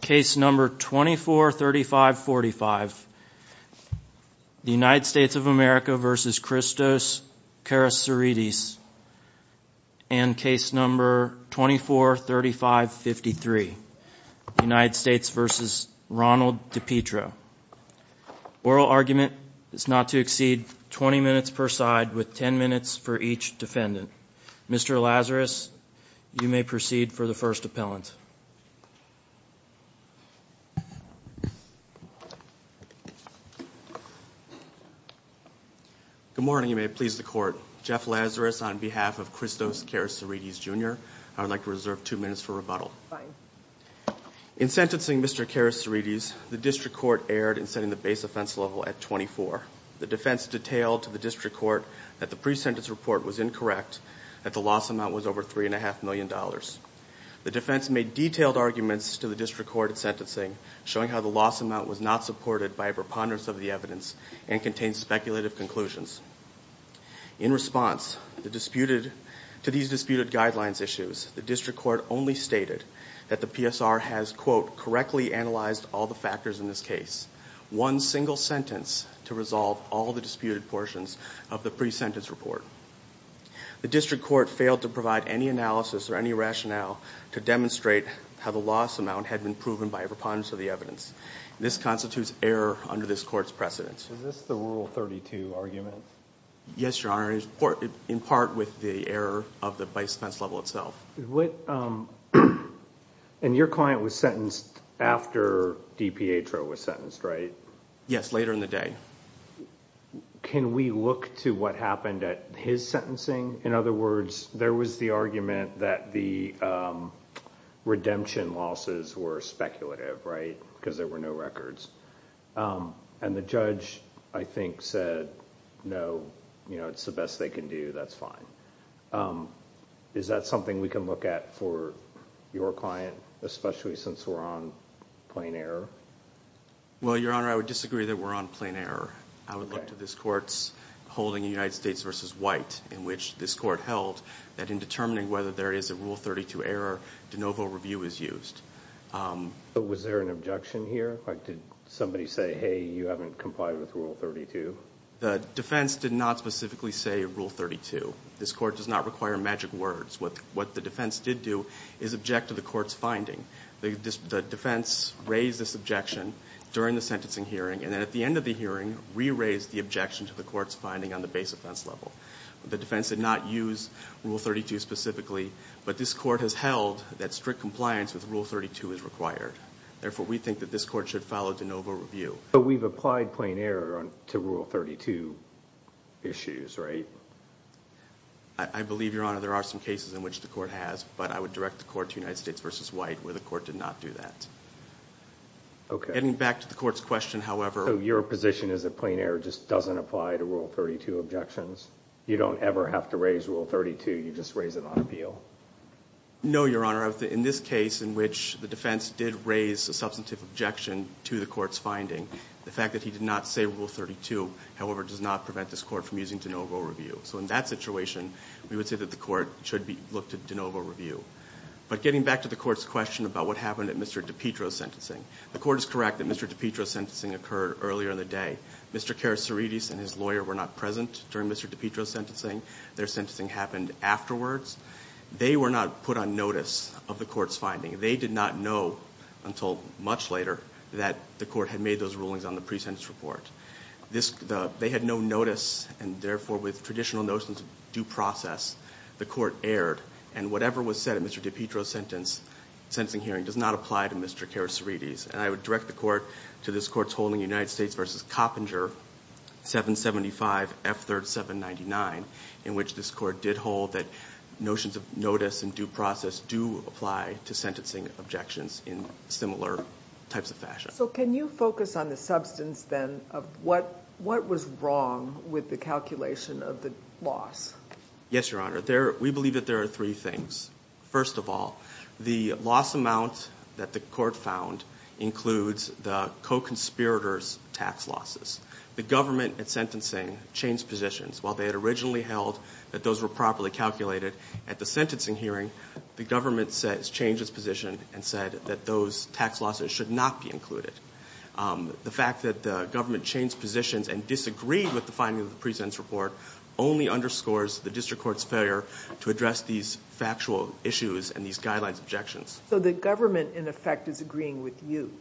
case number 243545 United States of America v. Christos Karasarides and case number 243553 United States v. Ronald DiPietro. Oral argument is not to exceed 20 minutes per side with 10 minutes for each defendant. Mr. Lazarus you may proceed for the first appellant. Good morning you may please the court. Jeff Lazarus on behalf of Christos Karasarides Jr. I would like to reserve two minutes for rebuttal. In sentencing Mr. Karasarides the district court erred in setting the base offense level at 24. The defense detailed to the district court that the pre-sentence report was incorrect that the loss amount was over three and a half million dollars. The defense made detailed arguments to the district court at sentencing showing how the loss amount was not supported by a preponderance of the evidence and contained speculative conclusions. In response to these disputed guidelines issues the district court only stated that the PSR has quote correctly analyzed all the factors in this case. One single sentence to resolve all the disputed portions of the pre-sentence report. The district court failed to provide any analysis or any rationale to demonstrate how the loss amount had been proven by a preponderance of the evidence. This constitutes error under this court's precedence. Is this the rule 32 argument? Yes your honor, in part with the error of the base offense level itself. And your client was sentenced after D. Pietro was sentenced right? Yes later in the day. Can we look to what happened at his sentencing? In other words there was the argument that the redemption losses were speculative right because there were no records and the judge I think said no you know it's the best they can do that's fine. Is that something we can look at for your client especially since we're on plain error? Well your honor I would disagree that we're on plain error. I would look to this court's holding in United States v. White in which this court held that in determining whether there is a rule 32 error de novo review is used. Was there an objection here? Did somebody say hey you haven't complied with rule 32? The defense did not specifically say rule 32. This court does not require magic words what the defense did do is object to the court's finding. The defense raised this objection during the sentencing hearing and then at the end of the hearing re-raised the objection to the court's finding on the base offense level. The defense did not use rule 32 specifically but this court has held that strict compliance with rule 32 is required. Therefore we think that this court should follow de novo review. But we've applied plain error to rule 32 issues right? I believe your honor there are some cases in which the court has but I would direct the court to United States v. White where the court did not do that. Okay. Getting back to the court's question however. So your position is a plain error just doesn't apply to rule 32 objections? You don't ever have to raise rule 32 you just raise it on appeal? No your honor in this case in which the defense did raise a substantive objection to the court's finding the fact that he did not say rule 32 however does not prevent this court from using de novo review. So in that situation we would say that the court should be looked at de novo review. But getting back to the court's question about what happened at Mr. DiPietro's sentencing. The court is correct that Mr. DiPietro's sentencing occurred earlier in the day. Mr. Karasiridis and his lawyer were not present during Mr. DiPietro's sentencing. Their sentencing happened afterwards. They were not put on notice of the court's finding. They did not know until much later that the court had made those rulings on the pre-sentence report. They had no notice and therefore with traditional notions of due process the court erred and whatever was said in Mr. DiPietro's sentencing hearing does not apply to Mr. Karasiridis. And I would direct the court to this court's holding United States v. Coppinger 775 F3rd 799 in which this court did hold that notions of notice and due process do apply to sentencing objections in similar types of fashion. So can you focus on the substance then of what was wrong with the calculation of the loss? Yes, Your Honor. We believe that there are three things. First of all, the loss amount that the court found includes the co-conspirators tax losses. The government at sentencing changed positions. While they had originally held that those were properly calculated at the sentencing hearing, the government changed its position and said that those tax losses should not be included. The fact that the government changed positions and disagreed with the finding of the pre-sentence report only underscores the district court's failure to address these factual issues and these guidelines objections. So the government in effect is agreeing with you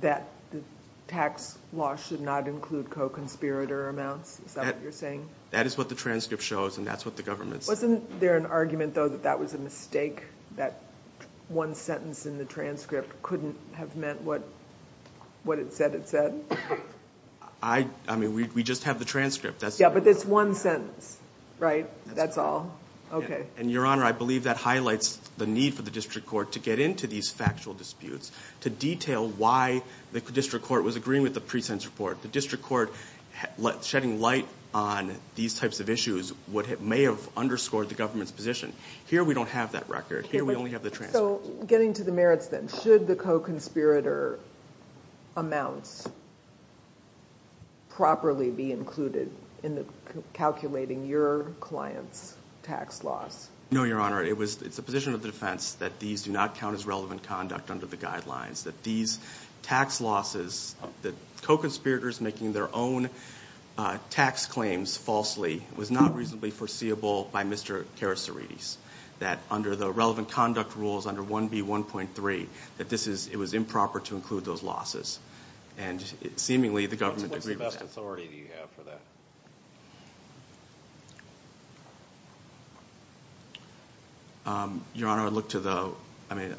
that the tax loss should not include co-conspirator amounts? Is that what you're saying? That is what the transcript shows and that's what the government's... Wasn't there an argument though that that was a mistake? That one sentence in the transcript couldn't have meant what it said it said? I mean we just have the transcript. Yeah, but it's one sentence, right? That's all. Okay. And Your Honor, I believe that highlights the need for the district court to get into these factual disputes to detail why the district court was agreeing with the pre-sentence report. The district court shedding light on these types of issues may have underscored the government's position. Here we don't have that record. Here we only have the transcript. So getting to the merits then, should the co-conspirator amounts properly be included in the calculating your client's tax loss? No, Your Honor. It was it's a position of the defense that these do not count as relevant conduct under the guidelines. That these tax losses that co-conspirators making their own tax claims falsely was not reasonably foreseeable by Mr. Karasarides. That under the relevant conduct rules under 1B1.3 that this is it was improper to include those losses and seemingly the government... What's the best authority you have for that? Your Honor, I look to the... I mean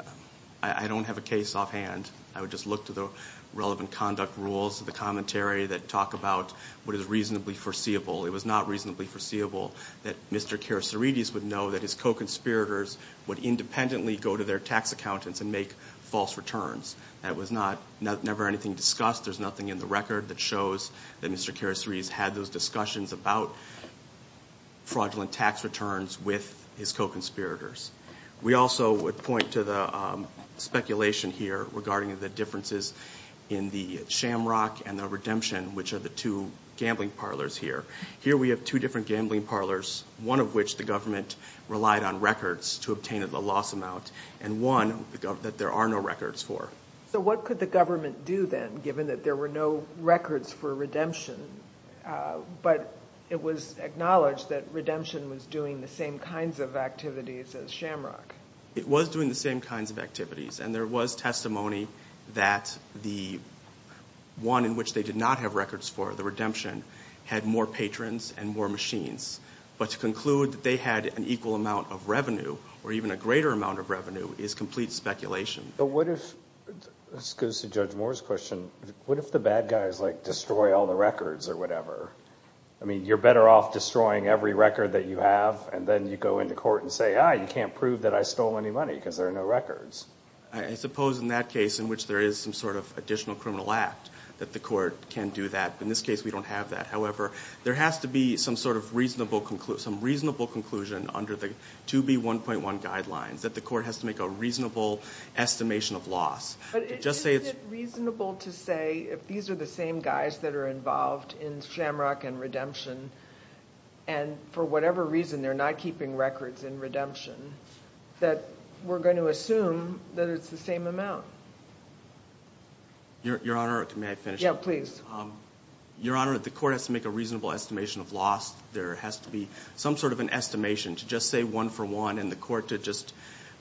I don't have a case offhand. I would just look to the relevant conduct rules, the commentary that talk about what is reasonably foreseeable. It was not reasonably foreseeable that Mr. Karasarides would know that his co-conspirators would independently go to their tax accountants and make false returns. That was not... never anything discussed. There's nothing in the record that shows that Mr. Karasarides had those discussions about fraudulent tax returns with his co-conspirators. We also would look to the speculation here regarding the differences in the Shamrock and the Redemption, which are the two gambling parlors here. Here we have two different gambling parlors, one of which the government relied on records to obtain a loss amount and one that there are no records for. So what could the government do then, given that there were no records for Redemption? But it was acknowledged that Redemption was doing the same kinds of activities as Shamrock. It was doing the same kinds of activities and there was testimony that the one in which they did not have records for, the Redemption, had more patrons and more machines. But to conclude that they had an equal amount of revenue or even a greater amount of revenue is complete speculation. But what if, this goes to Judge Moore's question, what if the bad guys like destroy all the records or whatever? I mean you're better off destroying every record that you have and then you go into court and say, ah, you can't prove that I stole any money because there are no records. I suppose in that case, in which there is some sort of additional criminal act, that the court can do that. In this case we don't have that. However, there has to be some sort of reasonable conclusion under the 2B1.1 guidelines that the court has to make a reasonable estimation of loss. But is it reasonable to say if these are the same guys that are involved in Shamrock and Redemption and for whatever reason they're not keeping records in Redemption, that we're going to assume that it's the same amount? Your Honor, may I finish? Yeah, please. Your Honor, the court has to make a reasonable estimation of loss. There has to be some sort of an estimation to just say one for one and the court to just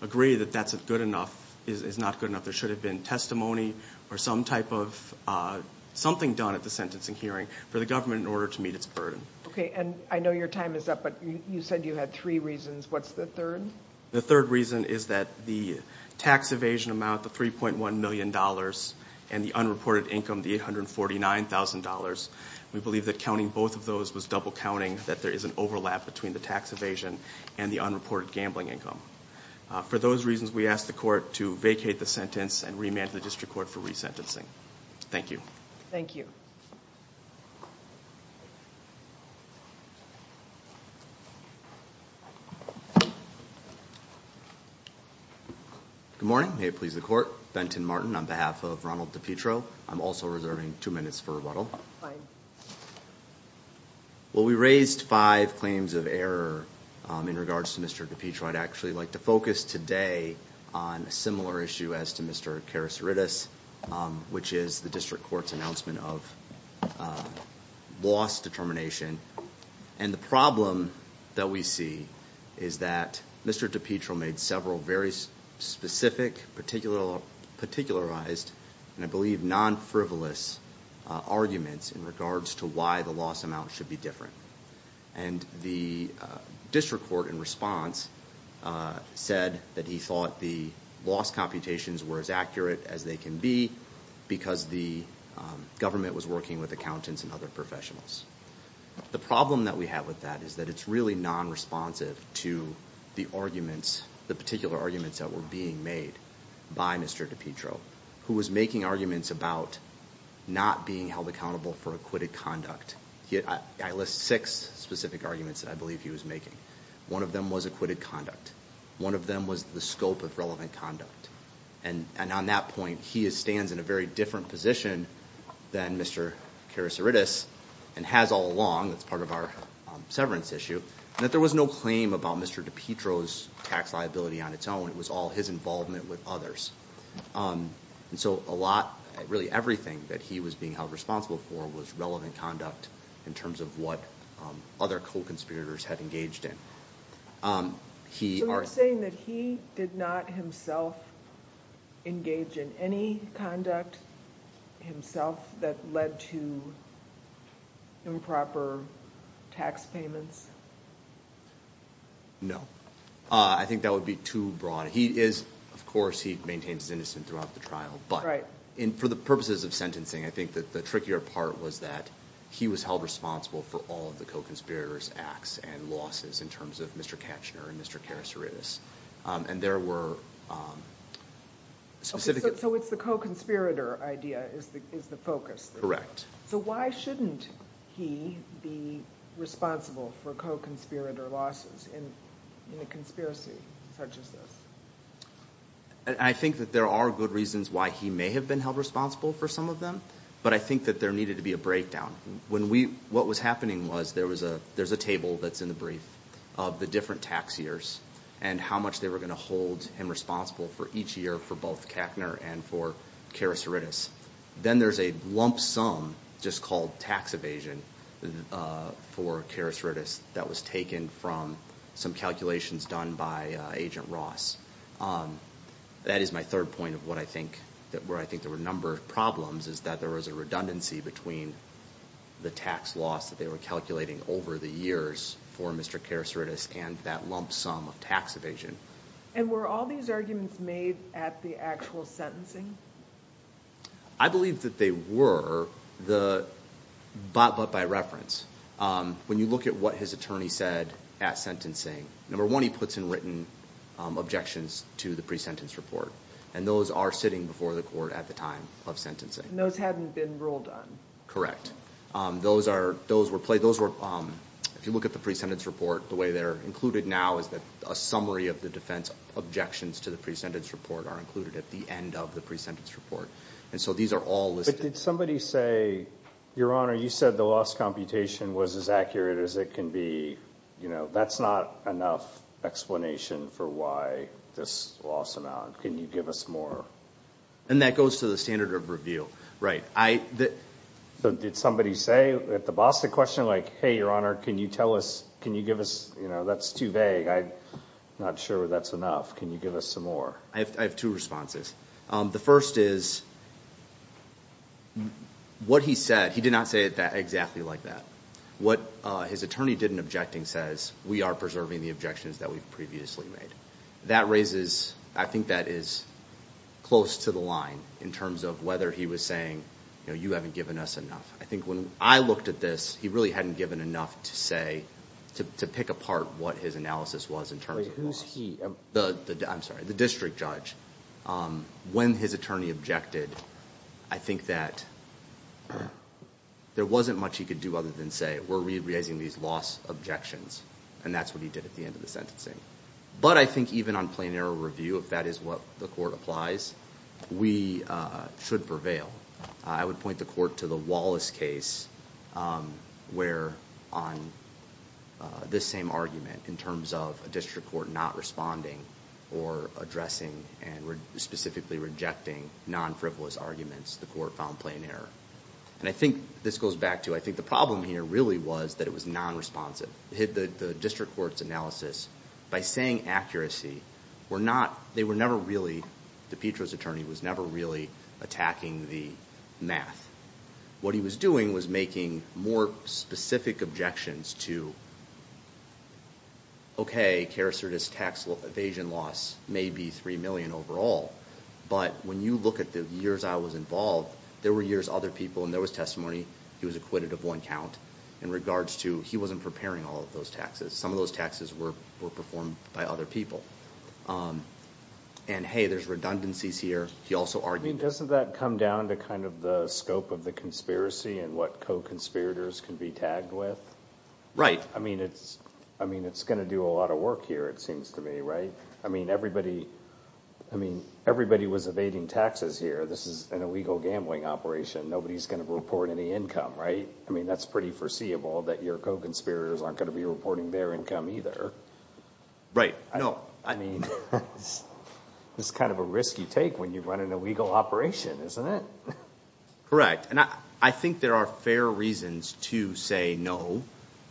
agree that that's a good enough is not good enough. There should have been testimony or some type of something done at the sentencing hearing for the government in order to Okay, and I know your time is up, but you said you had three reasons. What's the third? The third reason is that the tax evasion amount, the 3.1 million dollars and the unreported income, the $849,000, we believe that counting both of those was double counting, that there is an overlap between the tax evasion and the unreported gambling income. For those reasons, we ask the court to vacate the sentence and remand the district court for resentencing. Thank you. Thank you. Good morning, may it please the court. Benton Martin on behalf of Ronald DePietro. I'm also reserving two minutes for rebuttal. Well, we raised five claims of error in regards to Mr. DePietro. I'd actually like to focus today on a similar issue as to Mr. Karasaridis, which is the district court's announcement of loss determination. And the problem that we see is that Mr. DePietro made several very specific, particularized, and I believe non-frivolous arguments in regards to why the loss amount should be different. And the district court, in response, said that he thought the loss computations were as accurate as they can be because the government was working with accountants and other professionals. The problem that we have with that is that it's really non-responsive to the arguments, the particular arguments that were being made by Mr. DePietro, who was making arguments about not being held accountable for acquitted conduct. I list six specific arguments that I believe he was making. One of them was acquitted conduct. One of them was the scope of relevant conduct. And on that point, he stands in a very different position than Mr. Karasaridis and has all along, that's part of our severance issue, that there was no claim about Mr. DePietro's tax liability on its own. It was all his involvement with others. And so a lot, really everything, that he was being held responsible for was relevant conduct in terms of what other co-conspirators had engaged in. So you're saying that he did not himself engage in any conduct himself that led to improper tax payments? No. I think that would be too broad. He is, of course, he maintains his innocence throughout the trial, but for the purposes of sentencing, I think that the trickier part was that he was held responsible for all of the co-conspirators' acts and losses in terms of Mr. Katchner and Mr. Karasaridis. And there were specific... So it's the co-conspirator idea is the focus? Correct. So why shouldn't he be responsible for co-conspirator losses in a conspiracy such as this? I think that there are good reasons why he may have been held responsible for some of them, but I think that there needed to be a breakdown. When we, what was happening was there was a there's a table that's in the brief of the different tax years and how much they were going to hold him responsible for each year for both Katchner and for Karasaridis. Then there's a lump sum just called tax evasion for Karasaridis that was taken from some calculations done by Agent Ross. That is my third point of what I think that where I think there were a number of problems is that there was a redundancy between the tax loss that they were calculating over the years for Mr. Karasaridis and that lump sum of tax evasion. And were all these arguments made at the actual sentencing? I believe that they were, but by reference. When you look at what his attorney said at sentencing, number one he puts in written objections to the pre-sentence report and those are sitting before the court at the time of sentencing. And those hadn't been ruled on? Correct. Those were, if you look at the pre-sentence report, the way they're included now is that a summary of the defense objections to the pre-sentence report are included at the end of the pre-sentence report. And so these are all listed. But did somebody say, your honor, you said the loss computation was as accurate as it can be, you know, that's not enough explanation for why this loss amount. Can you give us more? And that goes to the standard of review. Right. So did somebody say at the Boston question, like, hey your honor, can you tell us, can you give us, you know, that's too vague. I'm not sure that's enough. Can you give us some more? I have two responses. The first is, what he said, he did not say it exactly like that. What his attorney did in objecting says, we are preserving the objections that we've previously made. That raises, I think that is close to the line in terms of whether he was saying, you know, you haven't given us enough. I think when I looked at this, he really hadn't given enough to say, to pick apart what his analysis was in terms of loss. Who's he? I'm sorry, the district judge. When his attorney objected, I think that there wasn't much he could do other than say, we're re-raising these loss objections. And that's what he did at the end of the sentencing. But I think even on plain error review, if that is what the court applies, we should prevail. I would point the court to the Wallace case, where on this same argument, in terms of a district court not responding or addressing and specifically rejecting non-frivolous arguments, the court found plain error. And I think this goes back to, I think the problem here really was that it was non-responsive. The district court's analysis, by saying accuracy, were not, they were never really, DiPietro's attorney was never really attacking the math. What he was doing was making more specific objections to, okay, carcerous tax evasion loss may be three million overall, but when you look at the years I was involved, there were years other people, and there was testimony, he was acquitted of one count in regards to, he wasn't preparing all of those taxes. Some of those taxes were performed by other people. And hey, there's redundancies here. He also argued... I mean, doesn't that come down to kind of the scope of the conspiracy and what co-conspirators can be tagged with? Right. I mean, it's going to do a lot of work here, it seems to me, right? I mean, everybody was evading taxes here. This is an illegal gambling operation. Nobody's going to report any income, right? I mean, that's pretty foreseeable that your co-conspirators aren't going to be reporting their income either. Right. No. I mean, it's kind of a risky take when you run an illegal operation, isn't it? Correct. And I think there are fair reasons to say no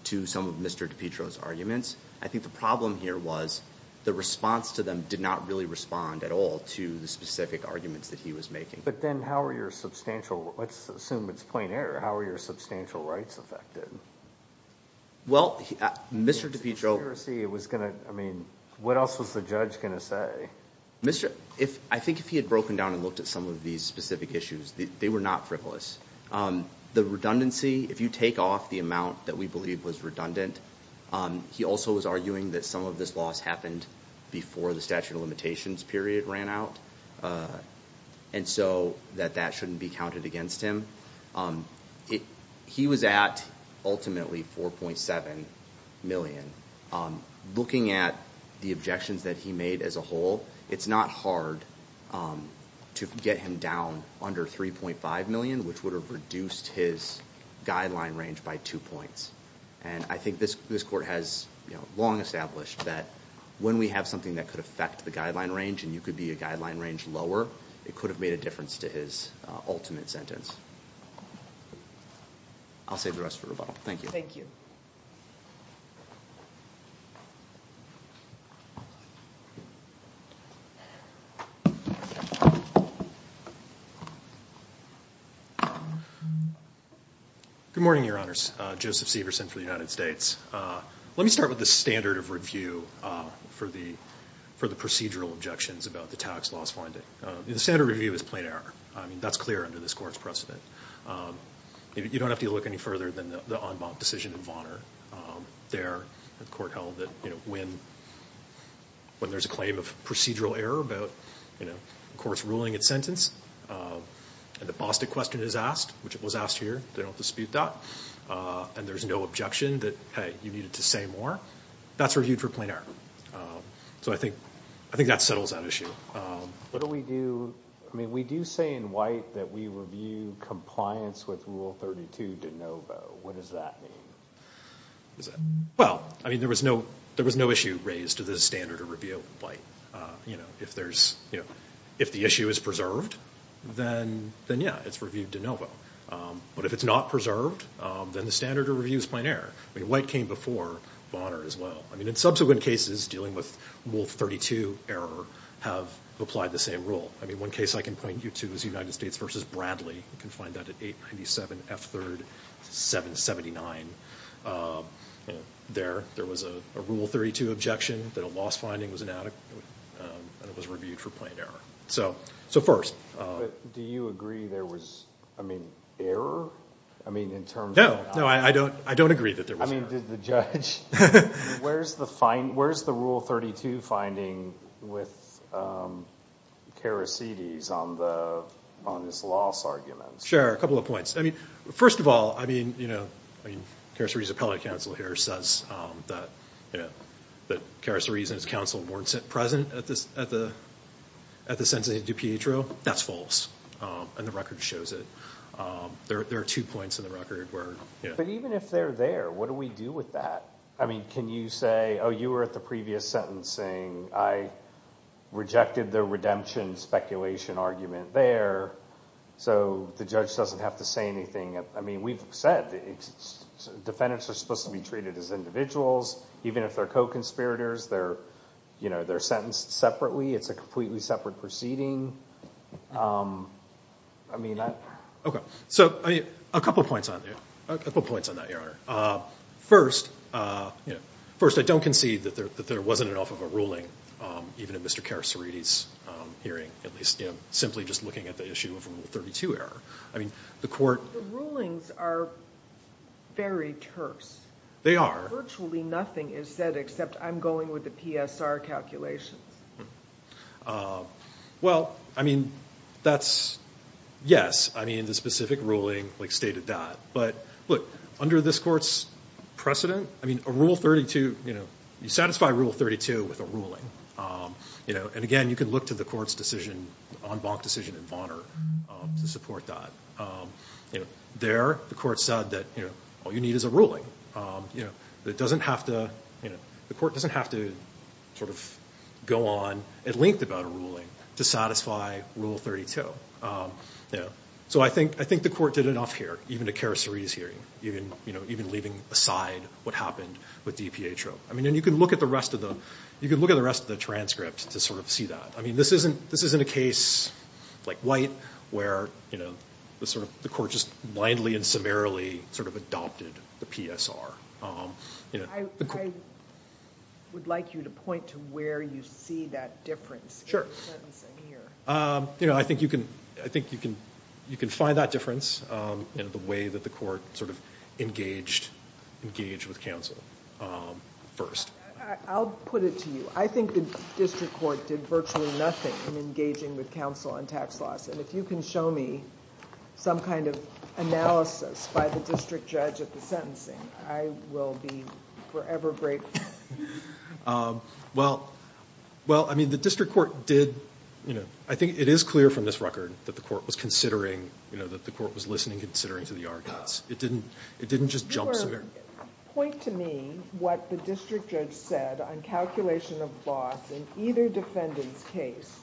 to some of Mr. DiPietro's arguments. I think the problem here was the response to them did not really respond at all to the specific arguments that he was making. But then how are your substantial, let's assume it's plain error, how are your substantial rights affected? Well, Mr. DiPietro... I mean, what else was the judge going to say? I think if he had broken down and looked at some of these specific issues, they were not frivolous. The redundancy, if you take off the amount that we believe was redundant, he also was arguing that some of this loss happened before the statute of limitations period ran out, and so that that shouldn't be counted against him. He was at ultimately 4.7 million. Looking at the objections that he made as a whole, it's not hard to get him down under 3.5 million, which would have reduced his guideline range by two points. And I think this this court has long established that when we have something that could affect the guideline range, and you could be a guideline range lower, it could have made a difference to his ultimate sentence. I'll save the rest for rebuttal. Thank you. Good morning, Your Honors. Joseph Severson for the United States. Let me start with the standard of review for the procedural objections about the tax loss finding. The standard review is plain error. I mean, that's clear under this court's precedent. You don't have to look any further than the en banc decision in Vonner. There, the court held that when there's a claim of procedural error about, you know, the court's ruling its sentence, and the Bostik question is asked, which it was asked here, they don't dispute that. And there's no objection that, hey, you needed to say more. That's reviewed for plain error. So I think I think that settles that issue. What do we do, I mean, we do say in white that we review compliance with Rule 32 de novo. What does that mean? Well, I mean, there was no issue raised to the standard of review in white. You know, if there's, you know, if the issue is preserved, then yeah, it's reviewed de novo. But if it's not preserved, then the standard of review is plain error. I mean, white came before Vonner as well. I mean, in subsequent cases dealing with Rule 32 error have applied the same rule. I mean, one case I can point you to is United States versus Bradley. You can find that at 897 F3rd 779. There, there was a Rule 32 objection that a loss finding was inadequate, and it was reviewed for plain error. So, so first. Do you agree there was, I mean, error? I mean, in terms of... No, no, I don't, I don't agree that there was error. I mean, did the judge... Where's the rule 32 finding with Karasidis on the, on this loss argument? Sure, a couple of points. I mean, first of all, I mean, you know, I mean, Karasidis' appellate counsel here says that, you know, that Karasidis and his counsel weren't present at this, at the, at the sentencing of DiPietro. That's false, and the record shows it. There, there are two points in the record where, yeah. But even if they're there, what do we do with that? I mean, can you say, oh, you were at the previous sentencing. I rejected the redemption speculation argument there, so the judge doesn't have to say anything. I mean, we've said the defendants are supposed to be treated as individuals. Even if they're co-conspirators, they're, you know, they're sentenced separately. It's a completely separate proceeding. I mean, can you say that? Okay. So, I mean, a couple of points on there. A couple of points on that, Your Honor. First, you know, first, I don't concede that there, that there wasn't enough of a ruling, even in Mr. Karasidis' hearing, at least, you know, simply just looking at the issue of rule 32 error. I mean, the court... The rulings are very terse. They are. Virtually nothing is said, except I'm going with the PSR calculations. Well, I mean, that's... Yes, I mean, the specific ruling, like, stated that, but look, under this court's precedent, I mean, a rule 32, you know, you satisfy rule 32 with a ruling, you know, and again, you can look to the court's decision, en banc decision in Bonner, to support that. You know, there, the court said that, you know, all you need is a ruling, you know, that doesn't have to, you know, the court doesn't have to sort of go on at length about a ruling to satisfy rule 32, you know. So I think, I think the court did enough here, even to Karasidis' hearing, even, you know, even leaving aside what happened with DPA trope. I mean, and you can look at the rest of the, you can look at the rest of the transcript to sort of see that. I mean, this isn't, this isn't a case like White, where, you know, the sort of, the court just blindly and summarily sort of adopted the PSR, you know. I would like you to point to where you see that difference. Sure. You know, I think you can, I think you can, you can find that difference in the way that the court sort of engaged, engaged with counsel first. I'll put it to you. I think the district court did virtually nothing in engaging with counsel on tax laws, and if you can show me some kind of analysis by the district judge at the sentencing, I will be forever grateful. Well, well, I mean, the district court did, you know, I think it is clear from this record that the court was considering, you know, that the court was listening and considering to the arguments. It didn't, it didn't just jump somewhere. Point to me what the district judge said on calculation of bots in either defendant's case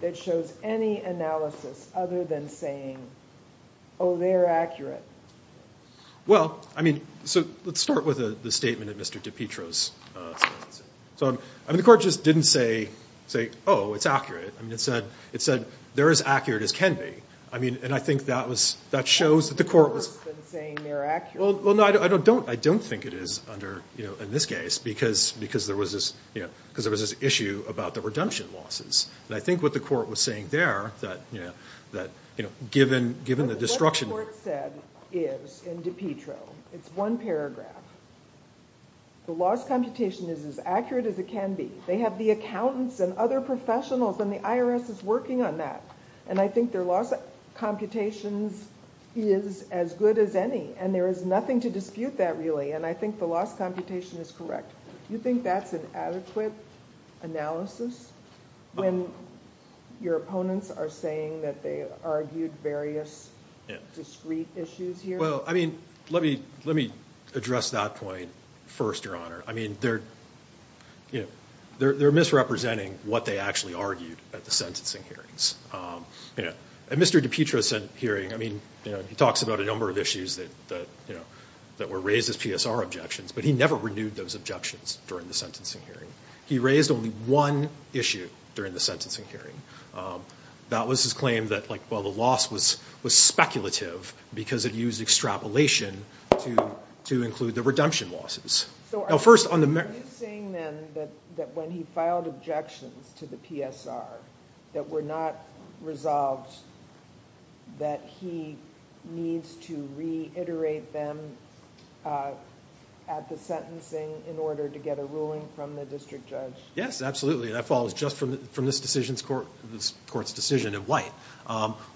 that shows any analysis other than saying, oh, they're accurate. Well, I mean, so let's start with a statement of Mr. DiPietro's. So, I mean, the court just didn't say, say, oh, it's accurate. I mean, it said, it said they're as accurate as can be. I mean, and I think that was, that shows that the court was, well, no, I don't, I don't think it is under, you know, in this case, because, because there was this, you know, because there was this issue about the redemption losses. And I think what the court was saying there that, you know, given, given the destruction. What the court said is, in DiPietro, it's one paragraph. The loss computation is as accurate as it can be. They have the accountants and other professionals and the IRS is working on that. And I think their loss computations is as good as any. And there is nothing to dispute that really. And I think the loss computation is correct. You think that's an adequate analysis when your opponents are saying that they argued various discrete issues here? Well, I mean, let me, let me address that point first, Your Honor. I mean, they're, you know, they're misrepresenting what they actually argued at the sentencing hearings. You know, at Mr. DiPietro's hearing, I mean, you know, he talks about a number of issues that, you know, that were raised as PSR objections, but he never renewed those objections during the sentencing hearing. He raised only one issue during the sentencing hearing. That was his claim that, like, well, the loss was, was speculative because it used extrapolation to, to include the redemption losses. So first on the... Are you saying then that when he filed objections to the PSR that were not resolved, that he needs to reiterate them at the sentencing in order to get a ruling from the district judge? Yes, absolutely. That follows just from, from this decision's court, this court's decision of White.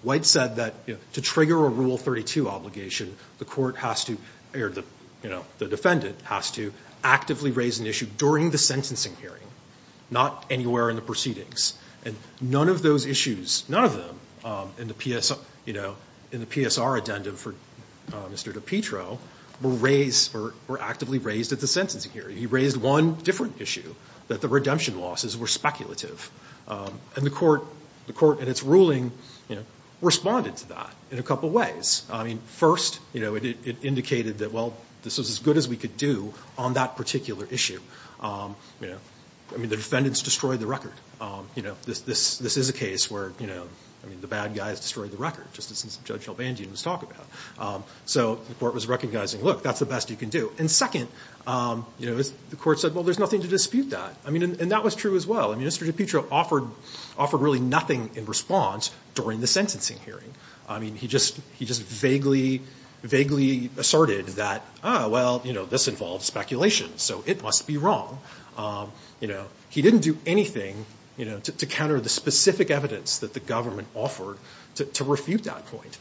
White said that, you know, to trigger a Rule 32 obligation, the court has to, or the, you know, the defendant has to actively raise an issue during the sentencing hearing, not anywhere in the proceedings. And none of those issues, none of them in the PSR, you know, in the PSR addendum for Mr. DiPietro were raised, or were actively raised at the sentencing hearing. He raised one different issue, that the redemption losses were speculative. And the court, the court in its ruling, you know, responded to that in a couple ways. I mean, first, you know, it, it indicated that, well, this was as good as we could do on that particular issue. You know, I mean, the defendants destroyed the record. You know, this, this, this is a case where, you know, I mean, the bad guys destroyed the record, just as Judge Albandian was talking about. So the court was recognizing, look, that's the best you can do. And second, you know, the court said, well, there's nothing to dispute that. I mean, and that was true as well. I mean, Mr. DiPietro offered, offered really nothing in response during the sentencing hearing. I mean, he just, he just vaguely, vaguely asserted that, oh, well, you know, this involves speculation, so it must be wrong. You know, he didn't do anything, you know, to counter the specific evidence that the government offered to refute that point.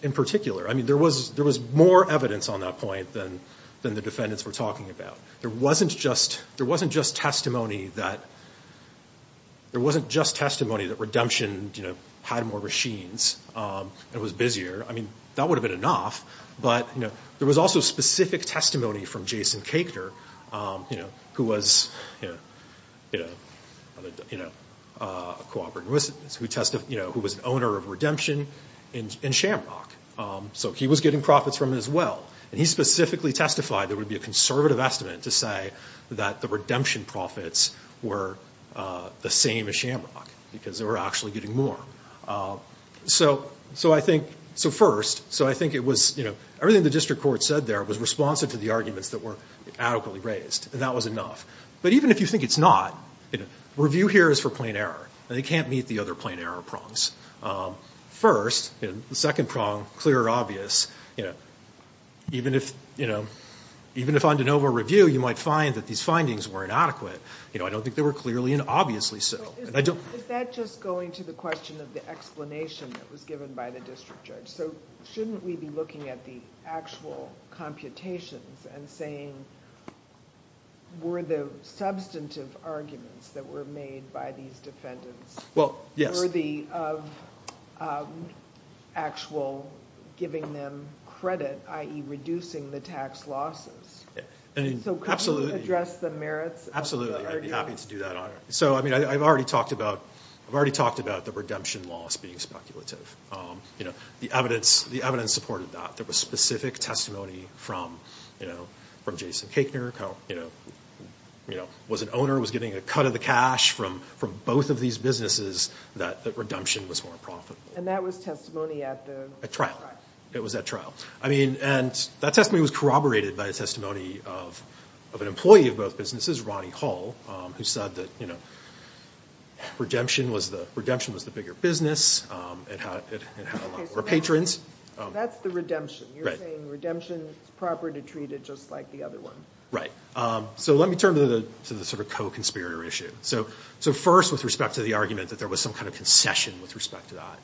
In particular, I mean, there was, there was more evidence on that point than, than the defendants were talking about. There wasn't just, there wasn't just testimony that, there wasn't just testimony that Redemption, you know, had more machines and was busier. I mean, that would have been enough, but, you know, there was also specific testimony from Jason Koechner, you know, who was, you know, you know, a cooperative, who testified, you know, who was an owner of Redemption in, in Shamrock. So he was getting profits from it as well, and he specifically testified there would be a conservative estimate to say that the Redemption profits were the same as Shamrock, because they were actually getting more. So, so I think, so first, so I think it was, you know, everything the district court said there was responsive to the arguments that were adequately raised, and that was enough. But even if you think it's not, you know, review here is for plain error, and it can't meet the other plain error prongs. First, you know, the second prong, clear and obvious, you know, even if, you know, even if on de novo review, you might find that these findings were inadequate, you know, I don't think they were clearly and obviously so. Is that just going to the question of the explanation that was given by the district judge? So shouldn't we be looking at the actual computations and saying, were the substantive arguments that were made by these defendants worthy of actual giving them credit, i.e. reducing the tax losses? So could we address the merits of the argument? Absolutely, I'd be happy to do that on it. So, I mean, I've already talked about, I've already talked about the Redemption loss being speculative. You know, the evidence, the evidence supported that. There was specific testimony from, you know, from Jason Kakner, you know, you know, was an owner, was getting a cut of the cash from, from both of these businesses that the Redemption was more profitable. And that was testimony at the trial? It was at trial. I mean, and that testimony was corroborated by a testimony of an employee of both businesses, Ronnie Hall, who said that, you know, Redemption was the, Redemption was the bigger business. It had a lot more patrons. That's the Redemption. You're saying Redemption is proper to treat it just like the other one. Right. So let me turn to the sort of co-conspirator issue. So, so first with respect to the argument that there was some kind of concession with respect to that.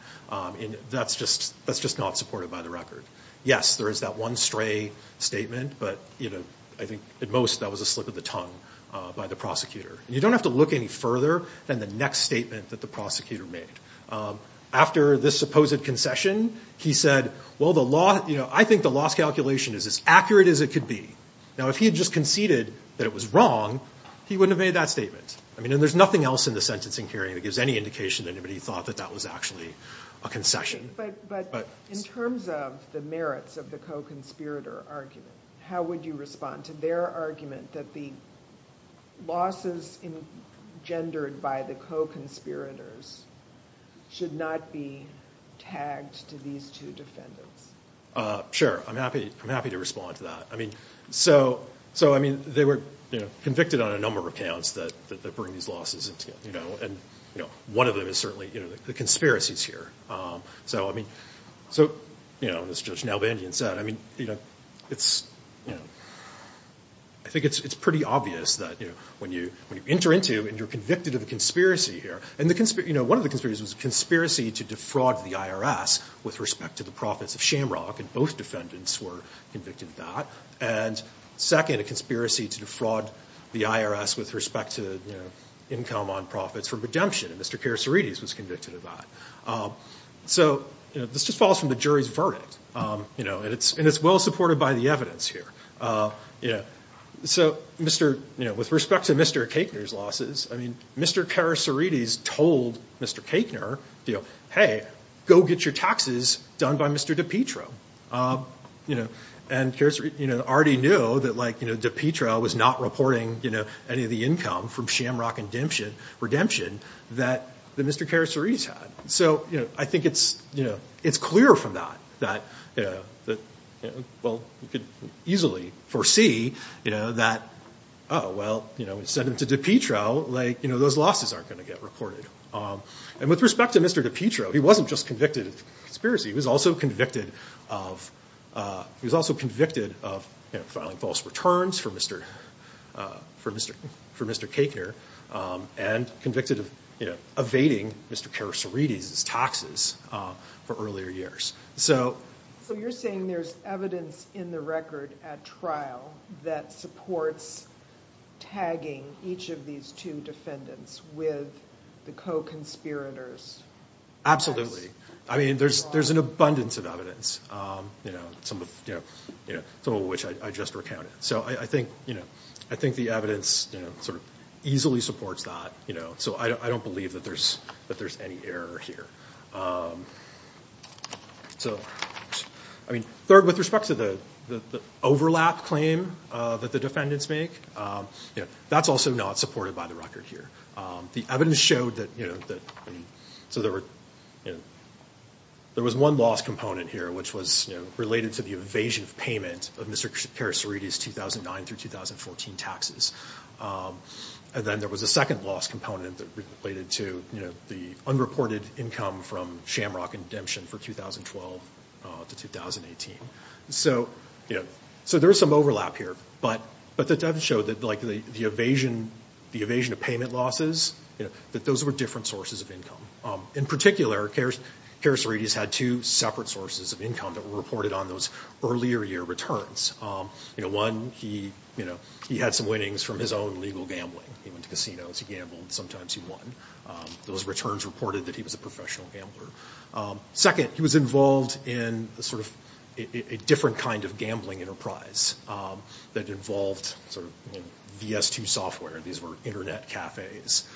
And that's just, that's just not supported by the record. Yes, there is that one stray statement. But, you know, I think at most that was a slip of the tongue by the prosecutor. You don't have to look any further than the next statement that the prosecutor made. After this supposed concession, he said, well, the law, you know, I think the loss calculation is as accurate as it could be. Now, if he had just conceded that it was wrong, he wouldn't have made that statement. I mean, and there's nothing else in the sentencing hearing that gives any indication that anybody thought that that was actually a concession. But, but in terms of the merits of the co-conspirator argument, how would you respond to their argument that the losses engendered by the co-conspirators should not be tagged to these two defendants? Sure. I'm happy, I'm happy to respond to that. I mean, so, so I mean, they were convicted on a number of accounts that bring these losses. And, you know, one of them is certainly, you know, the conspiracies here. So, I mean, so, you know, as Judge Nalbandian said, I mean, you know, it's, you know, I think it's pretty obvious that, you know, when you, when you enter into and you're convicted of a conspiracy here and the conspiracy, you know, one of the conspiracies was a conspiracy to defraud the IRS with respect to the profits of shampoo. And both defendants were convicted of that. And second, a conspiracy to defraud the IRS with respect to, you know, income on profits for redemption. And Mr. Karasuridis was convicted of that. So, you know, this just falls from the jury's verdict, you know, and it's, and it's well supported by the evidence here, you know, so, Mr., you know, with respect to Mr. Kachner's losses, I mean, Mr. Karasuridis told Mr. Kachner, you know, hey, go get your taxes done by Mr. DiPietro. You know, and Karasuridis, you know, already knew that, like, you know, DiPietro was not reporting, you know, any of the income from shamrock redemption that Mr. Karasuridis had. So, you know, I think it's, you know, it's clear from that, that, you know, that, you know, well, you could easily foresee, you know, that, oh, well, you know, we sent him to DiPietro, like, you know, those losses aren't going to get reported. And with respect to Mr. DiPietro, he wasn't just convicted of conspiracy. He was also convicted of, he was also convicted of, you know, filing false returns for Mr., for Mr., for Mr. Kachner and convicted of, you know, evading Mr. Karasuridis' taxes for earlier years. So. So you're saying there's evidence in the record at trial that supports tagging each of these two defendants with the co-conspirators? Absolutely. I mean, there's, there's an abundance of evidence, you know, some of, you know, some of which I just recounted. So I think, you know, I think the evidence, you know, sort of easily supports that, you know, so I don't believe that there's, that there's any error here. So, I mean, third, with respect to the overlap claim that the defendants make, you know, that's also not supported by the record here. The evidence showed that, you know, that, so there were, you know, there was one loss component here, which was, you know, related to the evasion of payment of Mr. Karasuridis' 2009 through 2014 taxes. And then there was a second loss component that related to, you know, the unreported income from Shamrock Indemption for 2012 to 2018. So, you know, so there's some overlap here, but the evidence showed that, like, the evasion, the evasion of payment losses, you know, that those were different sources of income. In particular, Karasuridis had two separate sources of income that were reported on those earlier year returns. You know, one, he, you know, he had some winnings from his own legal gambling. He went to casinos, he gambled, sometimes he won. Those returns reported that he was a professional gambler. Second, he was involved in sort of a different kind of gambling enterprise that involved sort of, you know, VS2 software. These were internet cafes.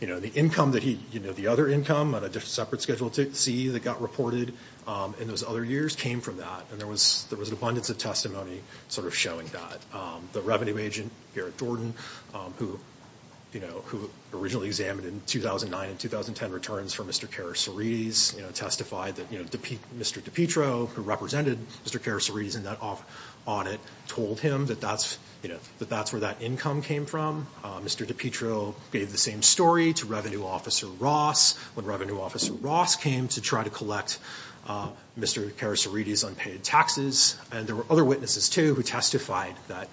You know, the income that he, you know, the other income on a separate Schedule C that got reported in those other years came from that, and there was abundance of testimony sort of showing that. The revenue agent, Garrett Jordan, who, you know, who originally examined in 2009 and 2010 returns for Mr. Karasuridis, you know, testified that, you know, Mr. DiPietro, who represented Mr. Karasuridis in that audit, told him that that's, you know, that that's where that income came from. Mr. DiPietro gave the same story to Revenue Officer Ross when Revenue Officer Ross came to try to collect Mr. Karasuridis' unpaid taxes, and there were other witnesses, too, who testified that,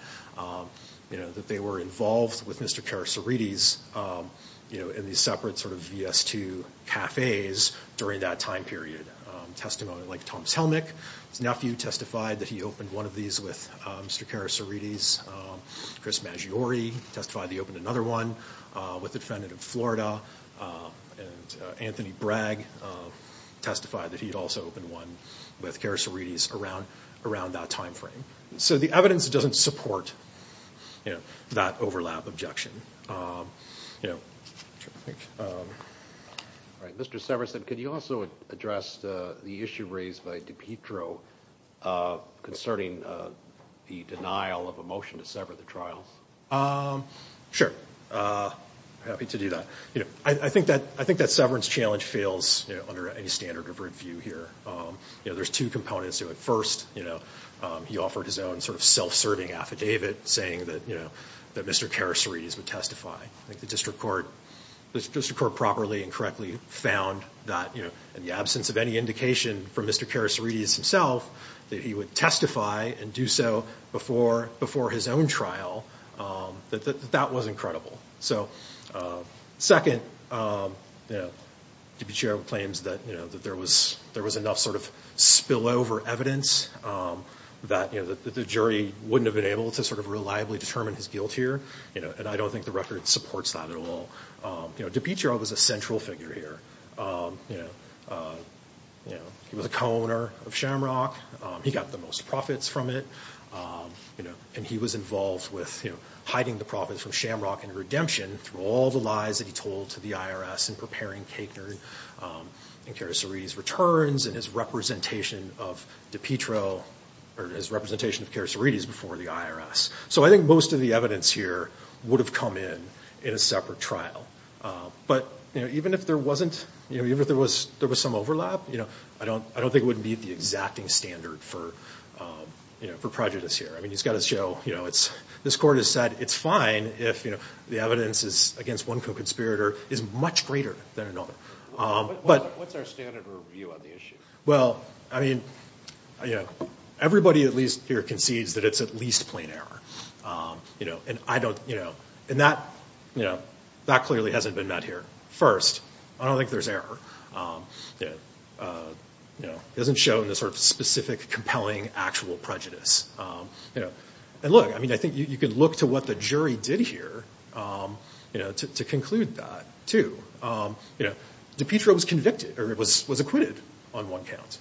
you know, that they were involved with Mr. Karasuridis, you know, in these separate sort of VS2 cafes during that time period. Testimony like Thomas Helmick, his nephew, testified that he opened one of these with Mr. Karasuridis. Chris Maggiore testified that he opened another one with a defendant in Florida, and Anthony Bragg testified that he'd also opened one with Karasuridis around that time frame. So the evidence doesn't support, you know, that overlap objection. All right. Mr. Severson, could you also address the issue raised by DiPietro concerning the denial of a motion to sever the trial? Sure. Happy to do that. You know, I think that severance challenge fails, you know, under any standard of review here. You know, there's two components to it. First, you know, he offered his own sort of self-serving affidavit saying that, you know, that Mr. Karasuridis would testify. I think the district court properly and correctly found that, you know, in the absence of any indication from Mr. Karasuridis himself that he would testify and do so before his own trial, that that was incredible. So second, you know, DiPietro claims that, you know, that there was enough sort of spillover evidence that, you know, that the jury wouldn't have been able to sort of reliably determine his guilt here. You know, and I don't think the record supports that at all. You know, DiPietro was a central figure here. You know, he was a co-owner of Shamrock. He got the most profits from it. You know, and he was involved with, you know, hiding the profits from Shamrock and Redemption through all the lies that he told to the IRS in preparing Kaganer and Karasuridis' returns and his representation of DiPietro or his representation of Karasuridis before the IRS. So I think most of the evidence here would have come in in a separate trial. But, you know, even if there wasn't, you know, even if there was some overlap, you know, I don't think it would meet the exacting standard for, you know, for prejudice here. I mean, he's got to show, you know, this court has said it's fine if, you know, the evidence is against one co-conspirator is much greater than another. But what's our standard of review on the issue? Well, I mean, you know, everybody at least here concedes that it's at least plain error. You know, and I don't, you know, and that, you know, that clearly hasn't been met here. First, I don't think there's error. You know, it doesn't show in this sort of specific, compelling, actual prejudice. You know, and look, I mean, I think you can look to what the jury did here, you know, to conclude that too. You know, DiPietro was convicted or was acquitted on one count,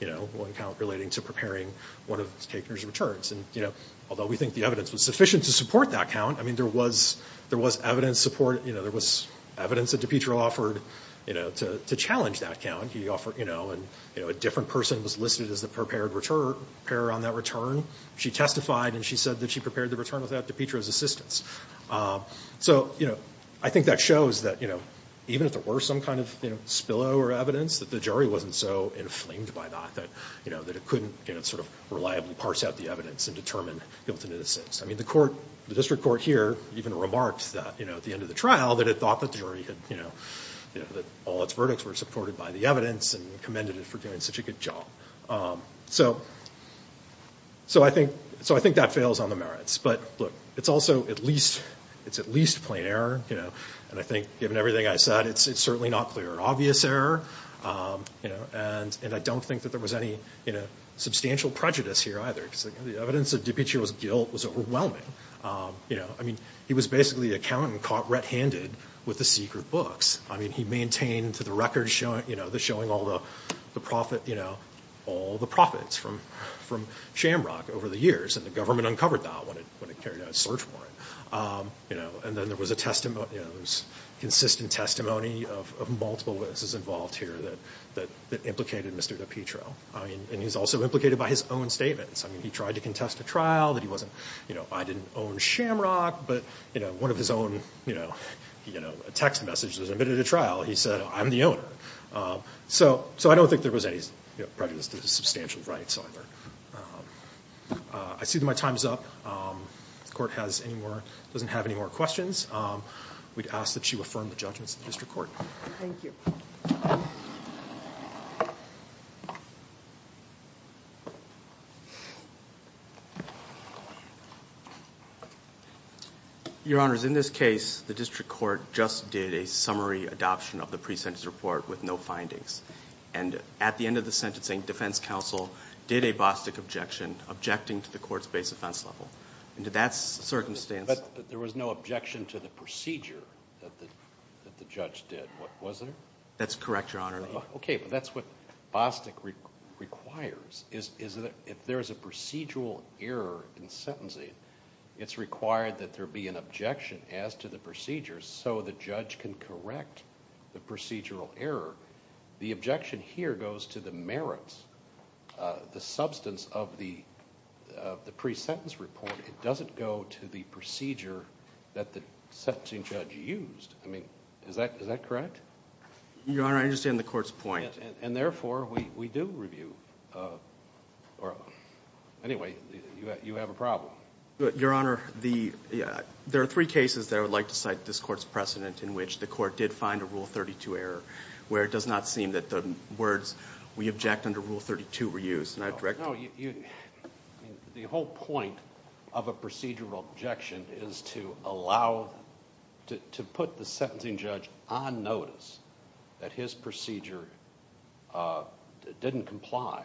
you know, one count relating to preparing one of Kaganer's returns. And, you know, although we think the evidence was sufficient to support that count, I mean, there was evidence support. You know, there was evidence that DiPietro offered, you know, to challenge that count. He offered, you know, and, you know, a different person was listed as the prepared repairer on that return. She testified, and she said that she prepared the return without DiPietro's assistance. So, you know, I think that shows that, you know, even if there were some kind of, you know, spillover evidence, that the jury wasn't so inflamed by that that, you know, that it couldn't, you know, sort of reliably parse out the evidence and determine guilt and innocence. I mean, the court, the district court here even remarked that, you know, at the end of the trial that it thought that the jury had, you know, that all its verdicts were supported by the evidence and commended it for doing such a good job. So I think that fails on the merits. But, look, it's also at least, it's at least plain error, you know. And I think, given everything I said, it's certainly not clear. Obvious error, you know, and I don't think that there was any, you know, substantial prejudice here either. Because the evidence of DiPietro's guilt was overwhelming, you know. I mean, he was basically a count and caught red-handed with the secret books. I mean, he maintained to the record, you know, the showing all the profit, you know, all the profits from Shamrock over the years. And the government uncovered that when it carried out a search warrant, you know. And then there was a testimony, you know, there was consistent testimony of multiple witnesses involved here that implicated Mr. DiPietro. I mean, and he was also implicated by his own statements. I mean, he tried to contest a trial that he wasn't, you know, I didn't own Shamrock. But, you know, one of his own, you know, text messages admitted to trial, he said, I'm the owner. So I don't think there was any, you know, prejudice to the substantial rights either. I see that my time is up. If the Court has any more, doesn't have any more questions, we'd ask that you affirm the judgments of the District Court. Thank you. Your Honors, in this case, the District Court just did a summary adoption of the pre-sentence report with no findings. And at the end of the sentencing, defense counsel did a Bostick objection, objecting to the court's base offense level. Under that circumstance. But there was no objection to the procedure that the judge did, was there? That's correct, Your Honor. Okay, but that's what Bostick requires, is that if there is a procedural error in sentencing, it's required that there be an objection as to the procedure so the judge can correct the procedural error. The objection here goes to the merits, the substance of the pre-sentence report. It doesn't go to the procedure that the sentencing judge used. I mean, is that correct? Your Honor, I understand the Court's point. And therefore, we do review. Anyway, you have a problem. Your Honor, there are three cases that I would like to cite this Court's precedent in which the Court did find a Rule 32 error, where it does not seem that the words we object under Rule 32 were used. The whole point of a procedural objection is to allow... to put the sentencing judge on notice that his procedure didn't comply.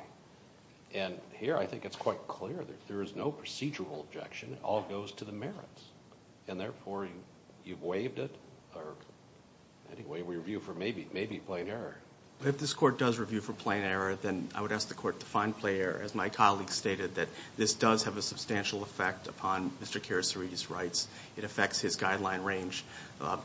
And here, I think it's quite clear that if there is no procedural objection, it all goes to the merits. And therefore, you've waived it. Anyway, we review for maybe plain error. But if this Court does review for plain error, then I would ask the Court to find plain error. As my colleague stated, that this does have a substantial effect upon Mr. Quericere's rights. It affects his guideline range.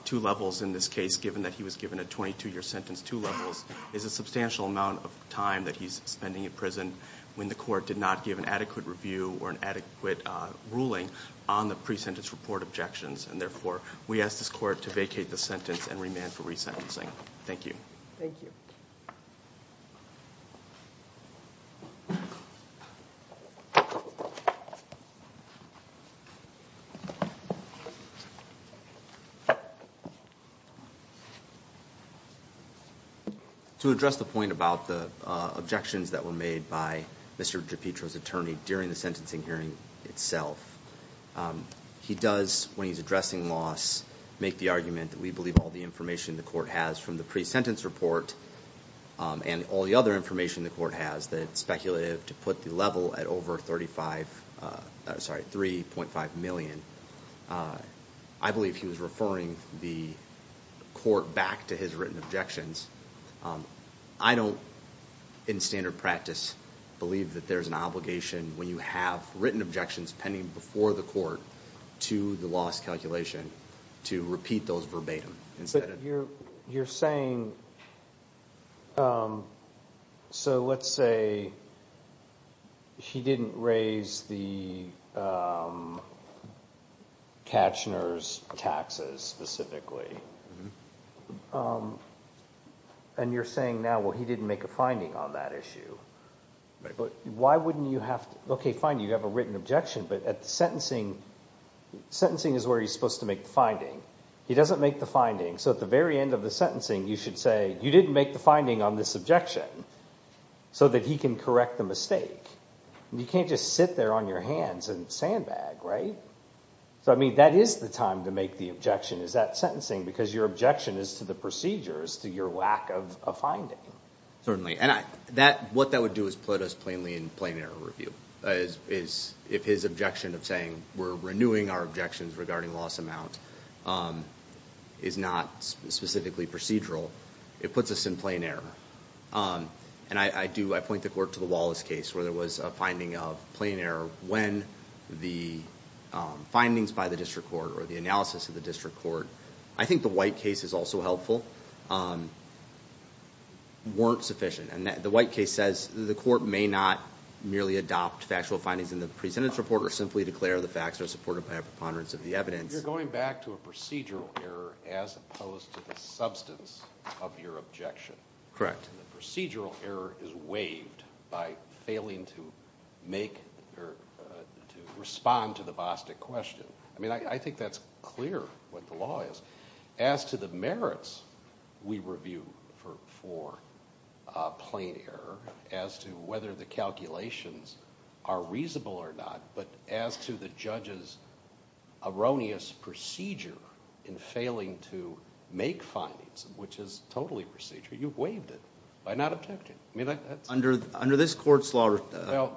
Two levels in this case, given that he was given a 22-year sentence, two levels, is a substantial amount of time that he's spending in prison when the Court did not give an adequate review or an adequate ruling on the pre-sentence report objections. And therefore, we ask this Court to vacate the sentence and remand for resentencing. Thank you. Thank you. To address the point about the objections that were made by Mr. DiPietro's attorney during the sentencing hearing itself, he does, when he's addressing loss, make the argument that we believe all the information the Court has from the pre-sentence report and all the other information the Court has that it's speculative to put the level at over 3.5 million. I believe he was referring the Court back to his written objections. I don't, in standard practice, believe that there's an obligation, when you have written objections pending before the Court to the loss calculation, to repeat those verbatim. But you're saying, so let's say he didn't raise the Kachner's taxes specifically. And you're saying now, well, he didn't make a finding on that issue. Why wouldn't you have to, okay, fine, you have a written objection, but at the sentencing, sentencing is where he's supposed to make the finding. He doesn't make the finding, so at the very end of the sentencing, you should say, you didn't make the finding on this objection, so that he can correct the mistake. You can't just sit there on your hands and sandbag, right? So, I mean, that is the time to make the objection, is that sentencing, because your objection is to the procedures, to your lack of a finding. Well, certainly, and what that would do is put us plainly in plain error review. If his objection of saying, we're renewing our objections regarding loss amount, is not specifically procedural, it puts us in plain error. And I do, I point the Court to the Wallace case, where there was a finding of plain error, when the findings by the District Court, or the analysis of the District Court, I think the White case is also helpful, weren't sufficient. And the White case says, the Court may not merely adopt factual findings in the presentence report, or simply declare the facts are supported by a preponderance of the evidence. You're going back to a procedural error, as opposed to the substance of your objection. Correct. The procedural error is waived by failing to make, or to respond to the Bostic question. I mean, I think that's clear, what the law is. As to the merits, we review for plain error, as to whether the calculations are reasonable or not, but as to the judge's erroneous procedure in failing to make findings, which is totally procedural, you've waived it, by not objecting. Under this Court's law...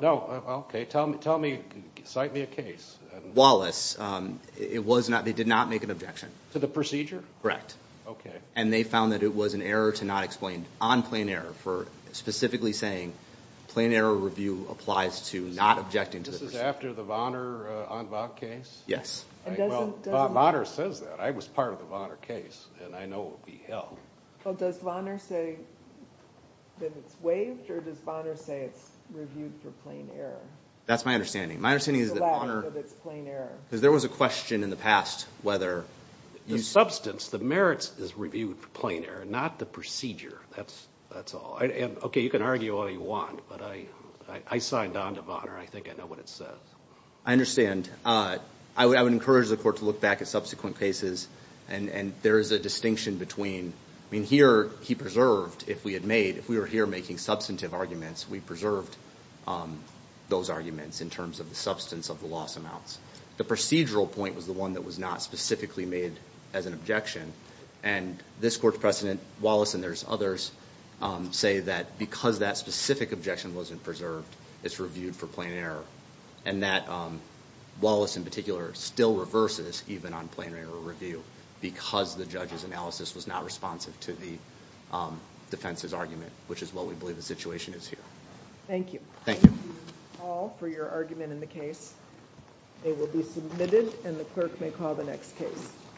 No, okay, tell me, cite me a case. Wallace. It was not, they did not make an objection. To the procedure? Okay. And they found that it was an error to not explain, on plain error, for specifically saying, plain error review applies to not objecting to the procedure. This is after the Vonner case? Yes. Well, Vonner says that. I was part of the Vonner case, and I know it will be held. Well, does Vonner say that it's waived, or does Vonner say it's reviewed for plain error? That's my understanding. My understanding is that Vonner... It's allowed because it's plain error. Because there was a question in the past whether you... The substance, the merits, is reviewed for plain error, not the procedure. That's all. Okay, you can argue all you want, but I signed on to Vonner. I think I know what it says. I understand. I would encourage the Court to look back at subsequent cases, and there is a distinction between, I mean, here he preserved, if we had made, if we were here making substantive arguments, we preserved those arguments in terms of the substance of the loss amounts. The procedural point was the one that was not specifically made as an objection, and this Court's precedent, Wallace and there's others, say that because that specific objection wasn't preserved, it's reviewed for plain error, and that Wallace in particular still reverses even on plain error review because the judge's analysis was not responsive to the defense's argument, which is why we believe the situation is here. Thank you. Thank you. Thank you all for your argument in the case. It will be submitted, and the clerk may call the next case.